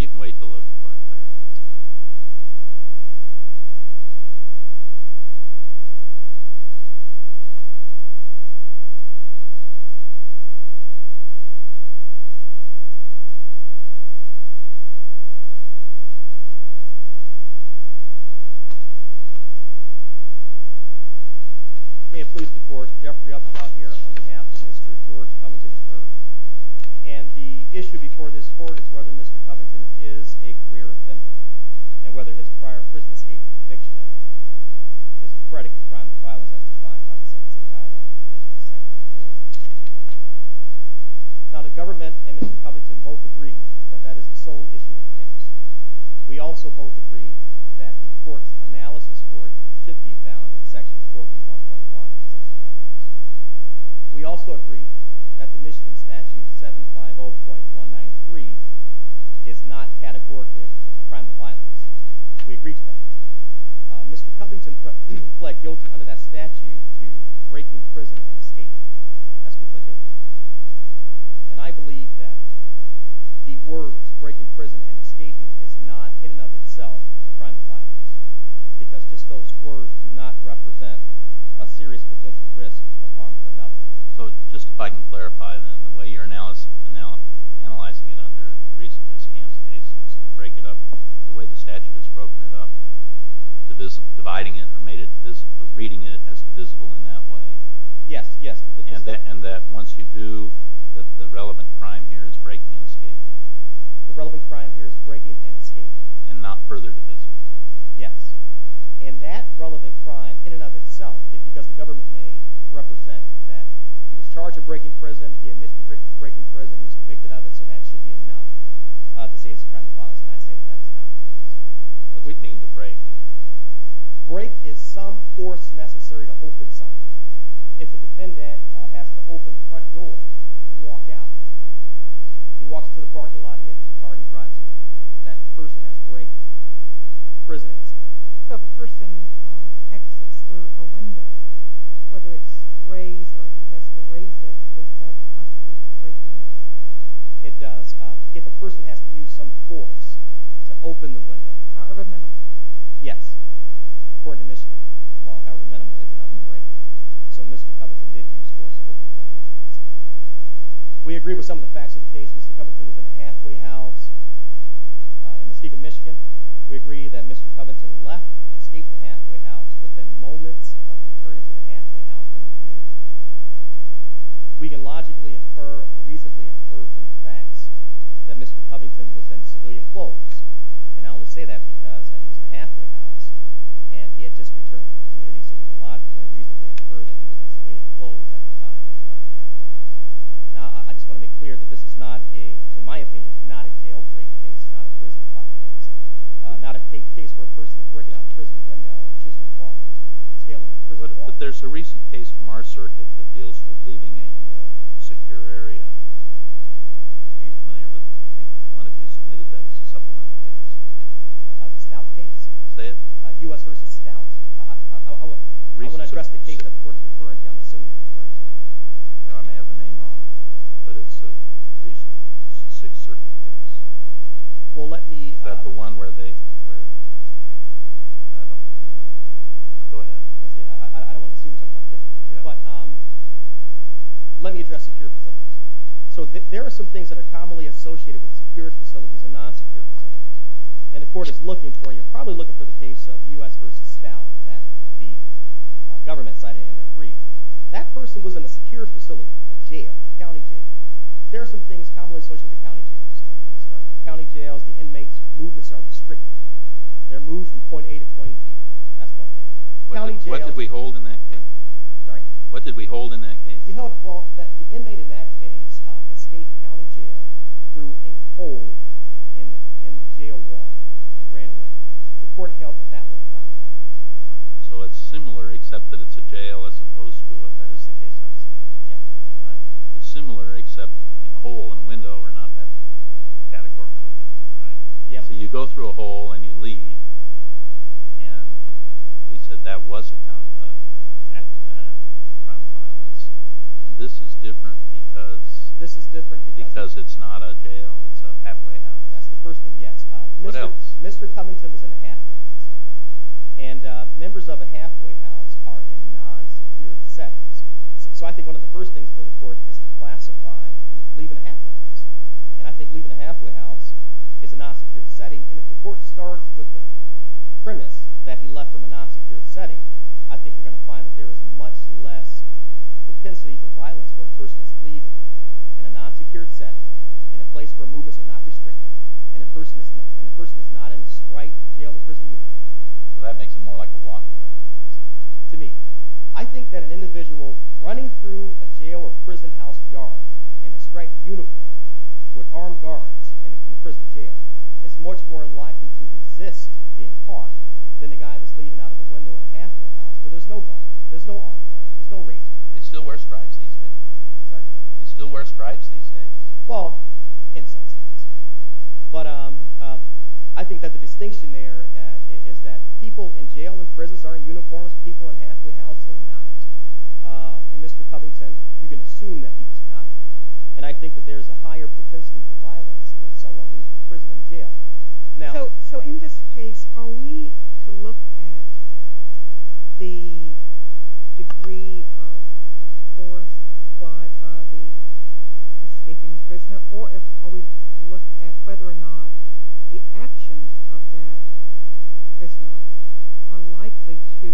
You can wait to look for it there if that's fine. May it please the Court, Jeffrey Epstein here on behalf of Mr. George Covington III. And the issue before this Court is whether Mr. Covington is a career offender and whether his prior prison-escape conviction is a predicate crime of violence as defined by the Sentencing Guidelines and Provisions, Section 4B. Now the Government and Mr. Covington both agree that that is the sole issue of the case. We also both agree that the Court's analysis report should be found in Section 4B.1.1 of the Sentencing Guidelines. We also agree that the Michigan Statute 750.193 is not categorically a crime of violence. We agree to that. Mr. Covington pled guilty under that statute to breaking prison and escaping. That's what he pled guilty to. And I believe that the words breaking prison and escaping is not in and of itself a crime of violence because just those words do not represent a serious potential risk of harm to another. So just if I can clarify then, the way you're analyzing it under the recent ISCAMS case is to break it up, the way the statute has broken it up, dividing it or reading it as divisible in that way. Yes, yes. And that once you do, that the relevant crime here is breaking and escaping. The relevant crime here is breaking and escaping. And not further divisible. Yes. And that relevant crime in and of itself, because the government may represent that he was charged with breaking prison, he admits to breaking prison, he was convicted of it, so that should be enough to say it's a crime of violence, and I say that that's not. What's it mean to break here? Break is some force necessary to open something. If a defendant has to open the front door and walk out, he walks to the parking lot, he enters the car, he drives away. That person has break. Prison is. So if a person exits through a window, whether it's raised or he has to raise it, does that constitute breaking? It does. If a person has to use some force to open the window. However minimal. Yes. According to Michigan. Well, however minimal is enough to break. So Mr. Covington did use force to open the window. We agree with some of the facts of the case. Mr. Covington was in a halfway house in Muskegon, Michigan. We agree that Mr. Covington left, escaped the halfway house within moments of returning to the halfway house from the community. We can logically infer or reasonably infer from the facts that Mr. Covington was in civilian clothes. And I only say that because he was in a halfway house and he had just returned from the community, so we can logically and reasonably infer that he was in civilian clothes at the time that he left the halfway house. Now, I just want to make clear that this is not a, in my opinion, not a jailbreak case, not a prison plot case, not a case where a person is breaking out a prison window and choosing a bar and scaling a prison wall. But there's a recent case from our circuit that deals with leaving a secure area. Are you familiar with it? I think one of you submitted that as a supplemental case. The Stout case? Say it. U.S. v. Stout. I want to address the case that the Court is referring to. I'm assuming you're referring to it. I may have the name wrong, but it's a recent Sixth Circuit case. Well, let me – Is that the one where they – I don't remember. Go ahead. I don't want to assume you're talking about a different case. But let me address secure facilities. So there are some things that are commonly associated with secure facilities and non-secure facilities. And the Court is looking for, and you're probably looking for the case of U.S. v. Stout that the government cited in their brief. That person was in a secure facility, a jail, a county jail. There are some things commonly associated with county jails. County jails, the inmates' movements are restricted. They're moved from point A to point B. That's one thing. What did we hold in that case? Sorry? What did we hold in that case? Well, the inmate in that case escaped county jail through a hole in the jail wall and ran away. The Court held that that was a crime of commerce. So it's similar, except that it's a jail as opposed to a – that is the case, I would say. Yes. It's similar, except a hole and a window are not that categorically different, right? Yeah. So you go through a hole and you leave. And we said that was a crime of violence. And this is different because it's not a jail. It's a halfway house. That's the first thing, yes. What else? Mr. Covington was in a halfway house. And members of a halfway house are in non-secure settings. So I think one of the first things for the Court is to classify leaving a halfway house. And I think leaving a halfway house is a non-secure setting. And if the Court starts with the premise that he left from a non-secure setting, I think you're going to find that there is much less propensity for violence where a person is leaving in a non-secure setting, in a place where movements are not restricted, and a person is not in a striped jail or prison uniform. So that makes it more like a walkaway. To me. I think that an individual running through a jail or prison house yard in a striped uniform with armed guards in a prison jail is much more likely to resist being caught than the guy that's leaving out of a window in a halfway house where there's no guards. There's no armed guards. There's no raiders. Do they still wear stripes these days? Sorry? Do they still wear stripes these days? Well, in some states. But I think that the distinction there is that people in jail and prisons aren't uniforms. People in halfway houses are not. And Mr. Covington, you can assume that he was not. And I think that there's a higher propensity for violence when someone leaves a prison than a jail. So in this case, are we to look at the degree of force applied by the escaping prisoner, or are we to look at whether or not the actions of that prisoner are likely to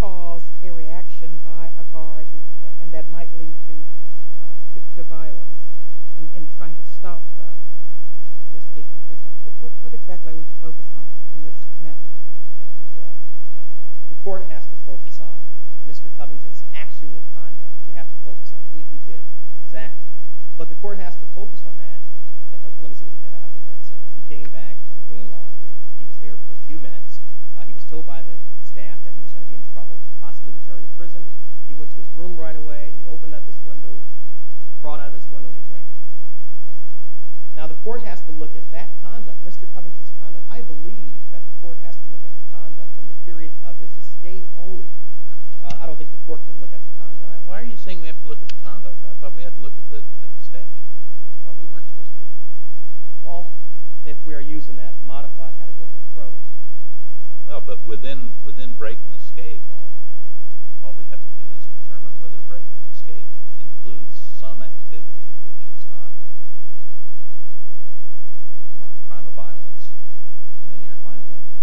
cause a reaction by a guard, and that might lead to violence in trying to stop the escaping prisoner? What exactly are we to focus on in this matter? The court has to focus on Mr. Covington's actual conduct. You have to focus on what he did exactly. But the court has to focus on that. Let me see what he did. I think I already said that. He came back from doing laundry. He was there for a few minutes. He was told by the staff that he was going to be in trouble, possibly return to prison. He went to his room right away. He opened up his window. He crawled out of his window, and he ran. Now, the court has to look at that conduct, Mr. Covington's conduct. I believe that the court has to look at the conduct from the period of his escape only. I don't think the court can look at the conduct. Why are you saying we have to look at the conduct? I thought we had to look at the statute. I thought we weren't supposed to look at it. Well, if we are using that modified categorical approach. But within break and escape, all we have to do is determine whether break and escape includes some activity, which is not a crime of violence, and then your client wins.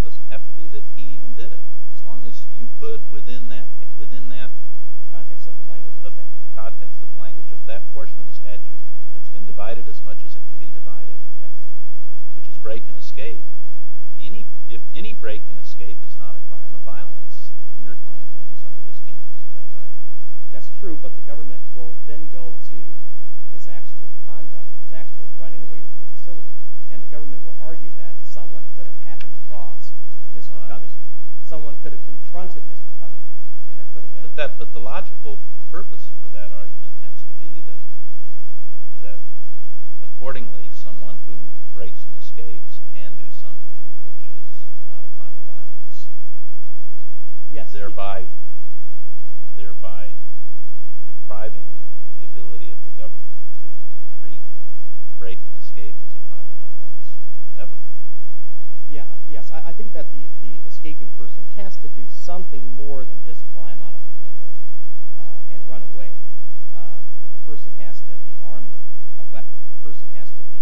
It doesn't have to be that he even did it. As long as you put within that context of language of that portion of the statute that's been divided as much as it can be divided, which is break and escape, if any break and escape is not a crime of violence, then your client wins under this case. That's true, but the government will then go to his actual conduct, his actual running away from the facility, and the government will argue that someone could have happened across Mr. Covington. Someone could have confronted Mr. Covington. But the logical purpose for that argument has to be that, accordingly, someone who breaks and escapes can do something which is not a crime of violence, thereby depriving the ability of the government to treat break and escape as a crime of violence ever. Yes, I think that the escaping person has to do something more than just climb out of his window and run away. The person has to be armed with a weapon. The person has to be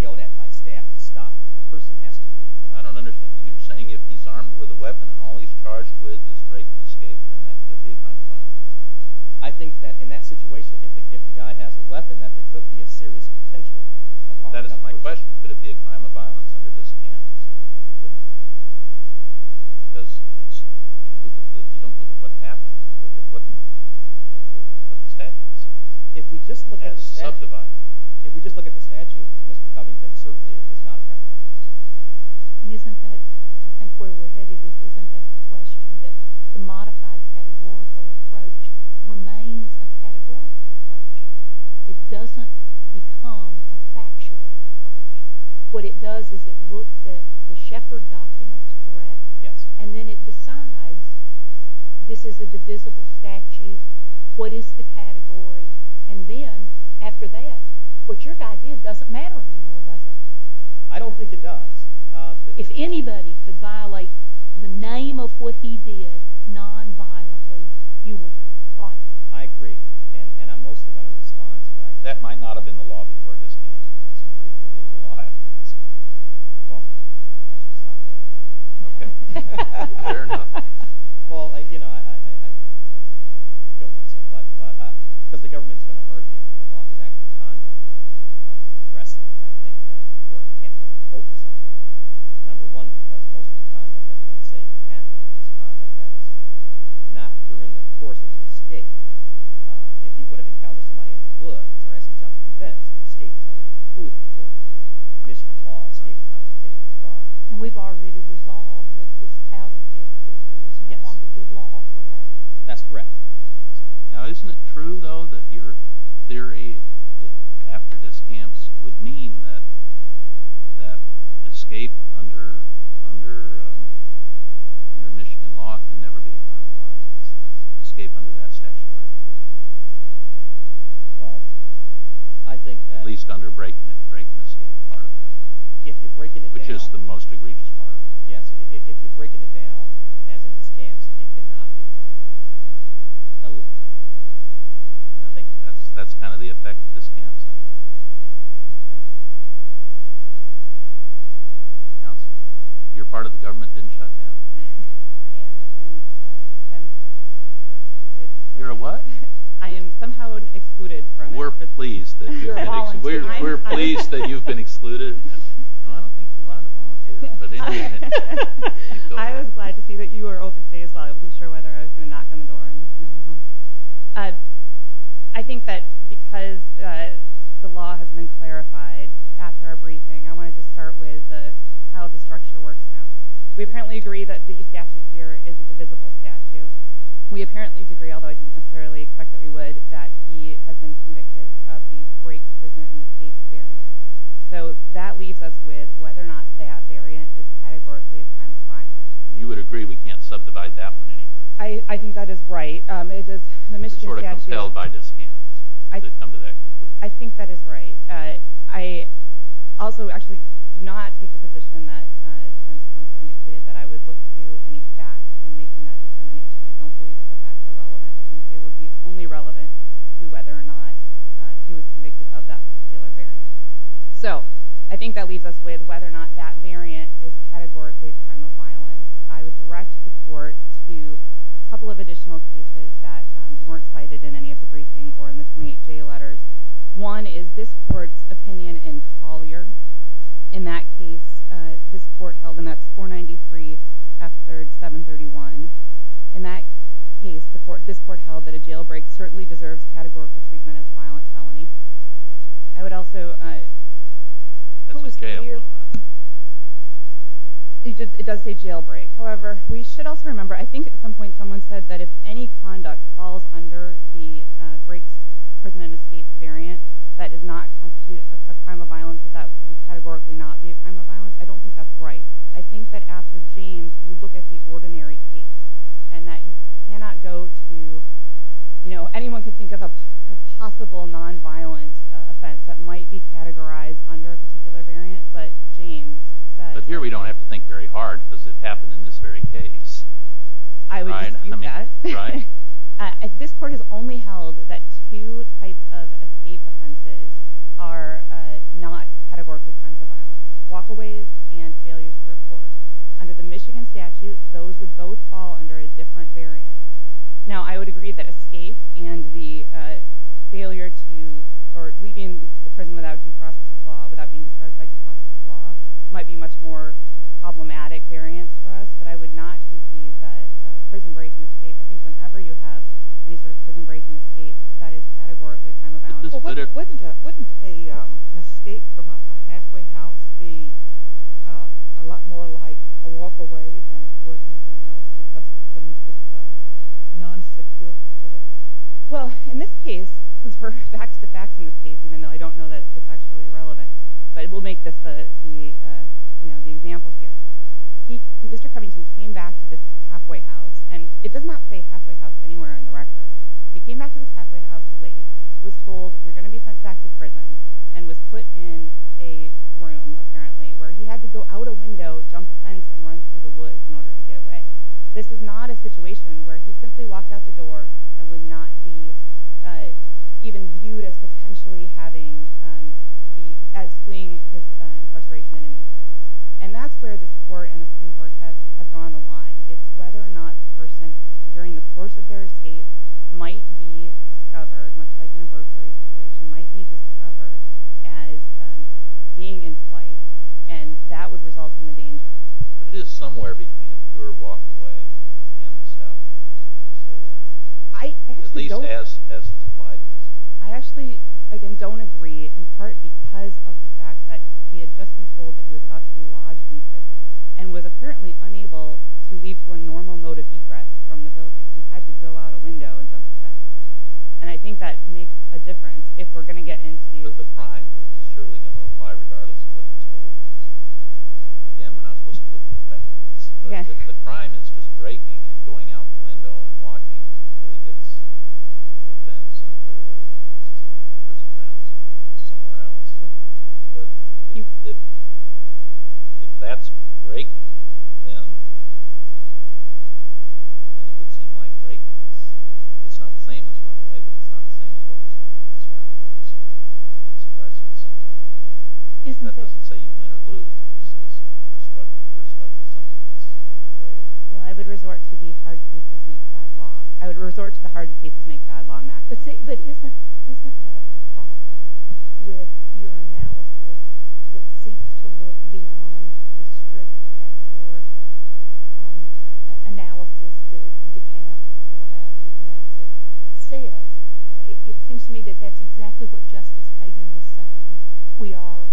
yelled at by staff to stop. The person has to be— I don't understand. You're saying if he's armed with a weapon and all he's charged with is break and escape, then that could be a crime of violence? I think that in that situation, if the guy has a weapon, that there could be a serious potential— That is my question. Could it be a crime of violence under this campus? You don't look at what happened. You look at what the statute says. As subdivided. If we just look at the statute, Mr. Covington certainly is not a crime of violence. I think where we're headed isn't that the question, that the modified categorical approach remains a categorical approach. It doesn't become a factual approach. What it does is it looks at the Shepard documents, correct? Yes. And then it decides, this is a divisible statute. What is the category? And then, after that, what your guy did doesn't matter anymore, does it? I don't think it does. If anybody could violate the name of what he did nonviolently, you would, right? I agree. And I'm mostly going to respond to what I can. That might not have been the law before this campus, but it's pretty close to the law after this campus. Well, I should stop there. Okay. Fair enough. Well, you know, I don't want to kill myself, but because the government is going to argue about his actual conduct, and I was addressing it, and I think that the court can't really focus on that. Number one, because most of the conduct that we're going to say happened is conduct that is not during the course of the escape. If he would have encountered somebody in the woods or as he jumped from the beds, the escape is already concluded according to the Michigan law, escape is not a continual crime. And we've already resolved that this pal-to-scape theory is no longer good law, correct? That's correct. Now, isn't it true, though, that your theory after this campus would mean that escape under Michigan law can never be a crime of violence, escape under that statutory provision? Well, I think that... At least under break-and-escape part of that. If you're breaking it down... Which is the most egregious part of it. Yes, if you're breaking it down as a discount, it cannot be a crime of violence. That's kind of the effect of discounts. Thank you. Counselor? Your part of the government didn't shut down. I am an exempter. You're a what? I am somehow excluded from it. We're pleased that you've been excluded. We're pleased that you've been excluded. No, I don't think you're allowed to volunteer, but anyway... I was glad to see that you were open today as well. I wasn't sure whether I was going to knock on the door and know I'm home. I think that because the law has been clarified after our briefing, I want to just start with how the structure works now. We apparently agree that the statute here is a divisible statute. We apparently agree, although I didn't necessarily expect that we would, that he has been convicted of the break, prison, and escape variant. So that leaves us with whether or not that variant is categorically a crime of violence. You would agree we can't subdivide that one any further? I think that is right. We're sort of compelled by discounts to come to that conclusion. I think that is right. I also actually do not take the position that defense counsel indicated that I would look to any facts in making that determination. I don't believe that the facts are relevant. I think they would be only relevant to whether or not he was convicted of that particular variant. So I think that leaves us with whether or not that variant is categorically a crime of violence. I would direct the court to a couple of additional cases that weren't cited in any of the briefing or in the 28 jail letters. One is this court's opinion in Collier. In that case, this court held, and that's 493 F. 3rd, 731. In that case, this court held that a jail break certainly deserves categorical treatment as a violent felony. I would also... That's a jail break. It does say jail break. However, we should also remember, I think at some point someone said that if any conduct falls under the break, prison, and escape variant that does not constitute a crime of violence, that that would categorically not be a crime of violence. I don't think that's right. I think that after James, you look at the ordinary case and that you cannot go to... Anyone could think of a possible nonviolent offense that might be categorized under a particular variant, but James says... But here we don't have to think very hard because it happened in this very case. I would dispute that. This court has only held that two types of escape offenses are not categorically crimes of violence, walkaways and failures to report. Under the Michigan statute, those would both fall under a different variant. Now, I would agree that escape and the failure to... or leaving the prison without due process of law, without being discharged by due process of law, might be much more problematic variants for us, but I would not concede that prison break and escape, I think whenever you have any sort of prison break and escape, that is categorically a crime of violence. Wouldn't an escape from a halfway house be a lot more like a walkaway than it would anything else because it's a non-secure facility? Well, in this case, since we're facts to facts in this case, even though I don't know that it's actually relevant, but we'll make this the example here. Mr. Covington came back to this halfway house, and it does not say halfway house anywhere in the record. He came back to this halfway house late, was told, you're going to be sent back to prison, and was put in a room, apparently, where he had to go out a window, jump a fence and run through the woods in order to get away. This is not a situation where he simply walked out the door and would not be even viewed as potentially having, as fleeing his incarceration in a new prison. And that's where this court and the Supreme Court have drawn the line. It's whether or not the person, during the course of their escape, might be discovered, much like in a burglary situation, might be discovered as being in flight, and that would result in the danger. But it is somewhere between a pure walk away and the stop. At least as it's implied in this case. I actually, again, don't agree, in part because of the fact that he had just been told that he was about to be lodged in prison, and was apparently unable to leave for a normal mode of egress from the building. He had to go out a window and jump a fence. And I think that makes a difference if we're going to get into... But the crime is surely going to apply regardless of what he's told. Again, we're not supposed to look at the facts. But if the crime is just breaking, and going out the window, and walking until he gets to a fence, I'm not sure whether the person drowns somewhere else. But if that's breaking, then it would seem like breaking is... It's not the same as runaway, but it's not the same as what was going to be discovered. So that's not something I would think. That doesn't say you win or lose. It says you're struggling with something that's in the way. Well, I would resort to the hard cases make bad law. I would resort to the hard cases make bad law maxim. But isn't that the problem with your analysis that seeks to look beyond the strict categorical analysis that De Camp or however you pronounce it says? It seems to me that that's exactly what Justice Kagan was saying. We are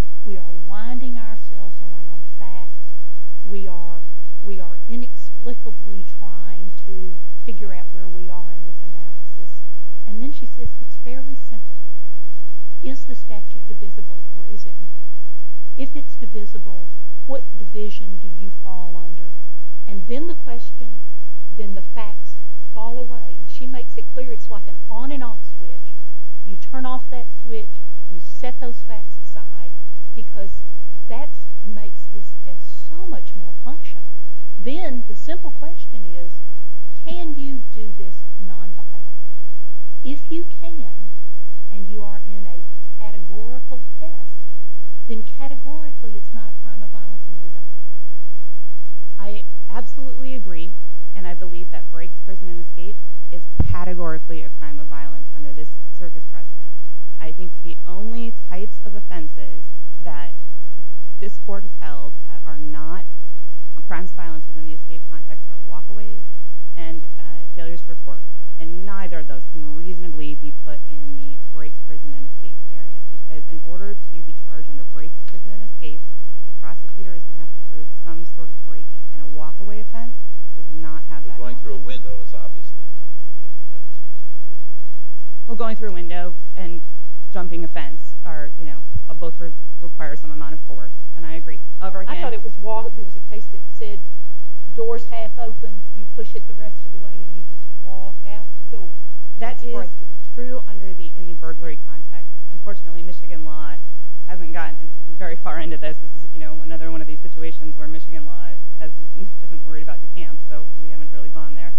winding ourselves around facts. We are inexplicably trying to figure out where we are in this analysis. And then she says it's fairly simple. Is the statute divisible or is it not? If it's divisible, what division do you fall under? And then the question, then the facts fall away. She makes it clear it's like an on and off switch. You turn off that switch. You set those facts aside because that makes this test so much more functional. Then the simple question is can you do this nonviolently? If you can and you are in a categorical test, then categorically it's not a crime of violence and we're done. I absolutely agree. And I believe that Brakes, Prison, and Escape is categorically a crime of violence under this Circus precedent. I think the only types of offenses that this court has held are not crimes of violence within the escape context are walkaways and failures for court, and neither of those can reasonably be put in the Brakes, Prison, and Escape experience because in order to be charged under Brakes, Prison, and Escape, the prosecutor is going to have to prove some sort of breaking, and a walkaway offense does not have that. Well, going through a window is obviously not... Well, going through a window and jumping a fence both require some amount of force, and I agree. I thought it was a case that said doors half open, you push it the rest of the way, and you just walk out the door. That is true in the burglary context. Unfortunately, Michigan law hasn't gotten very far into this. This is another one of these situations where Michigan law isn't worried about DeKalb, so we haven't really gone there.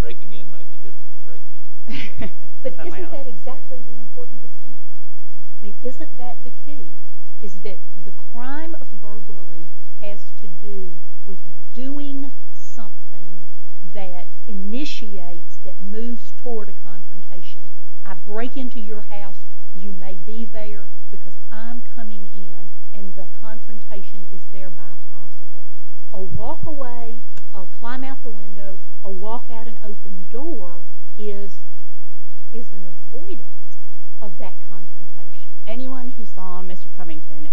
Breaking in might be different than breaking out. But isn't that exactly the important distinction? I mean, isn't that the key, is that the crime of burglary has to do with doing something that initiates, that moves toward a confrontation. I break into your house, you may be there because I'm coming in, and the confrontation is thereby possible. A walkaway, a climb out the window, a walk out an open door is an avoidance of that confrontation. Anyone who saw Mr. Covington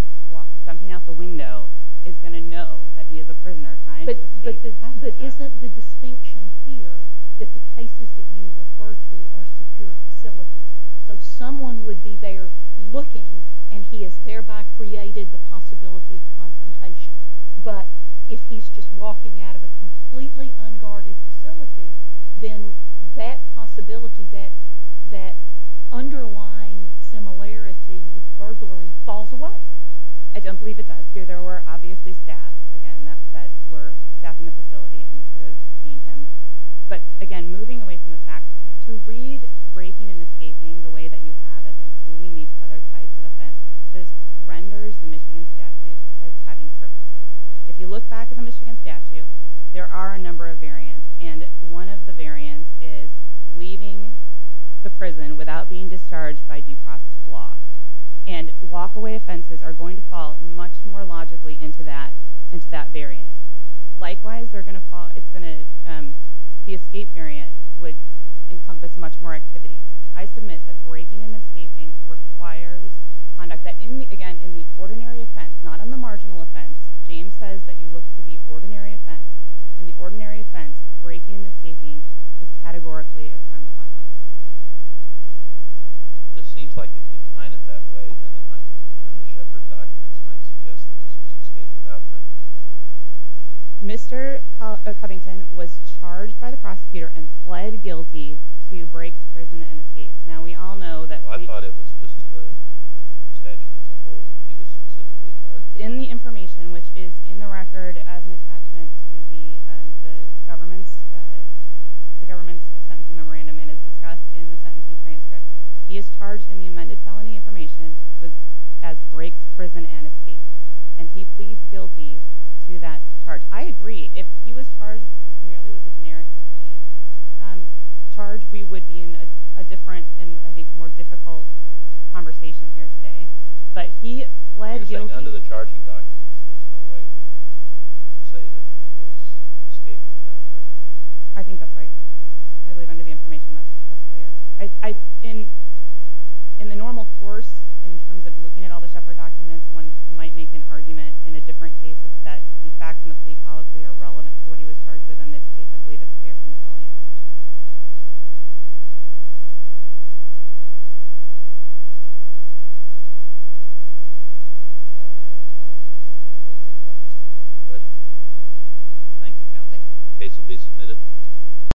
jumping out the window is going to know that he is a prisoner trying to escape. But isn't the distinction here that the cases that you refer to are secure facilities, so someone would be there looking and he has thereby created the possibility of confrontation. But if he's just walking out of a completely unguarded facility, then that possibility, that underlying similarity with burglary, falls away. I don't believe it does. There were obviously staff, again, that were staffing the facility and you could have seen him. But again, moving away from the facts, to read breaking and escaping the way that you have as including these other types of offenses, this renders the Michigan statute as having surplus. If you look back at the Michigan statute, there are a number of variants, and one of the variants is leaving the prison without being discharged by due process of law. And walkaway offenses are going to fall much more logically into that variant. Likewise, the escape variant would encompass much more activity. I submit that breaking and escaping requires conduct that, again, in the ordinary offense, not on the marginal offense. James says that you look to the ordinary offense. In the ordinary offense, breaking and escaping is categorically a crime of violence. It just seems like if you define it that way, then the Shepard documents might suggest that this was escaped without breaking. Mr. Covington was charged by the prosecutor and pled guilty to breaks, prison, and escapes. Now, we all know that— I thought it was just to the statute as a whole. He was specifically charged? In the information, which is in the record as an attachment to the government's sentencing memorandum and is discussed in the sentencing transcript, he is charged in the amended felony information as breaks, prison, and escapes. And he pleads guilty to that charge. I agree. If he was charged merely with the generic escape charge, we would be in a different and, I think, more difficult conversation here today. But he pled guilty— You're saying under the charging documents, there's no way we can say that he was escaping without breaking. I think that's right. I believe under the information, that's clear. In the normal course, in terms of looking at all the Shepard documents, one might make an argument in a different case that the facts in the plea policy are relevant to what he was charged with. In this case, I believe it's clear from the felony information. Thank you, Counselor. The case will be submitted.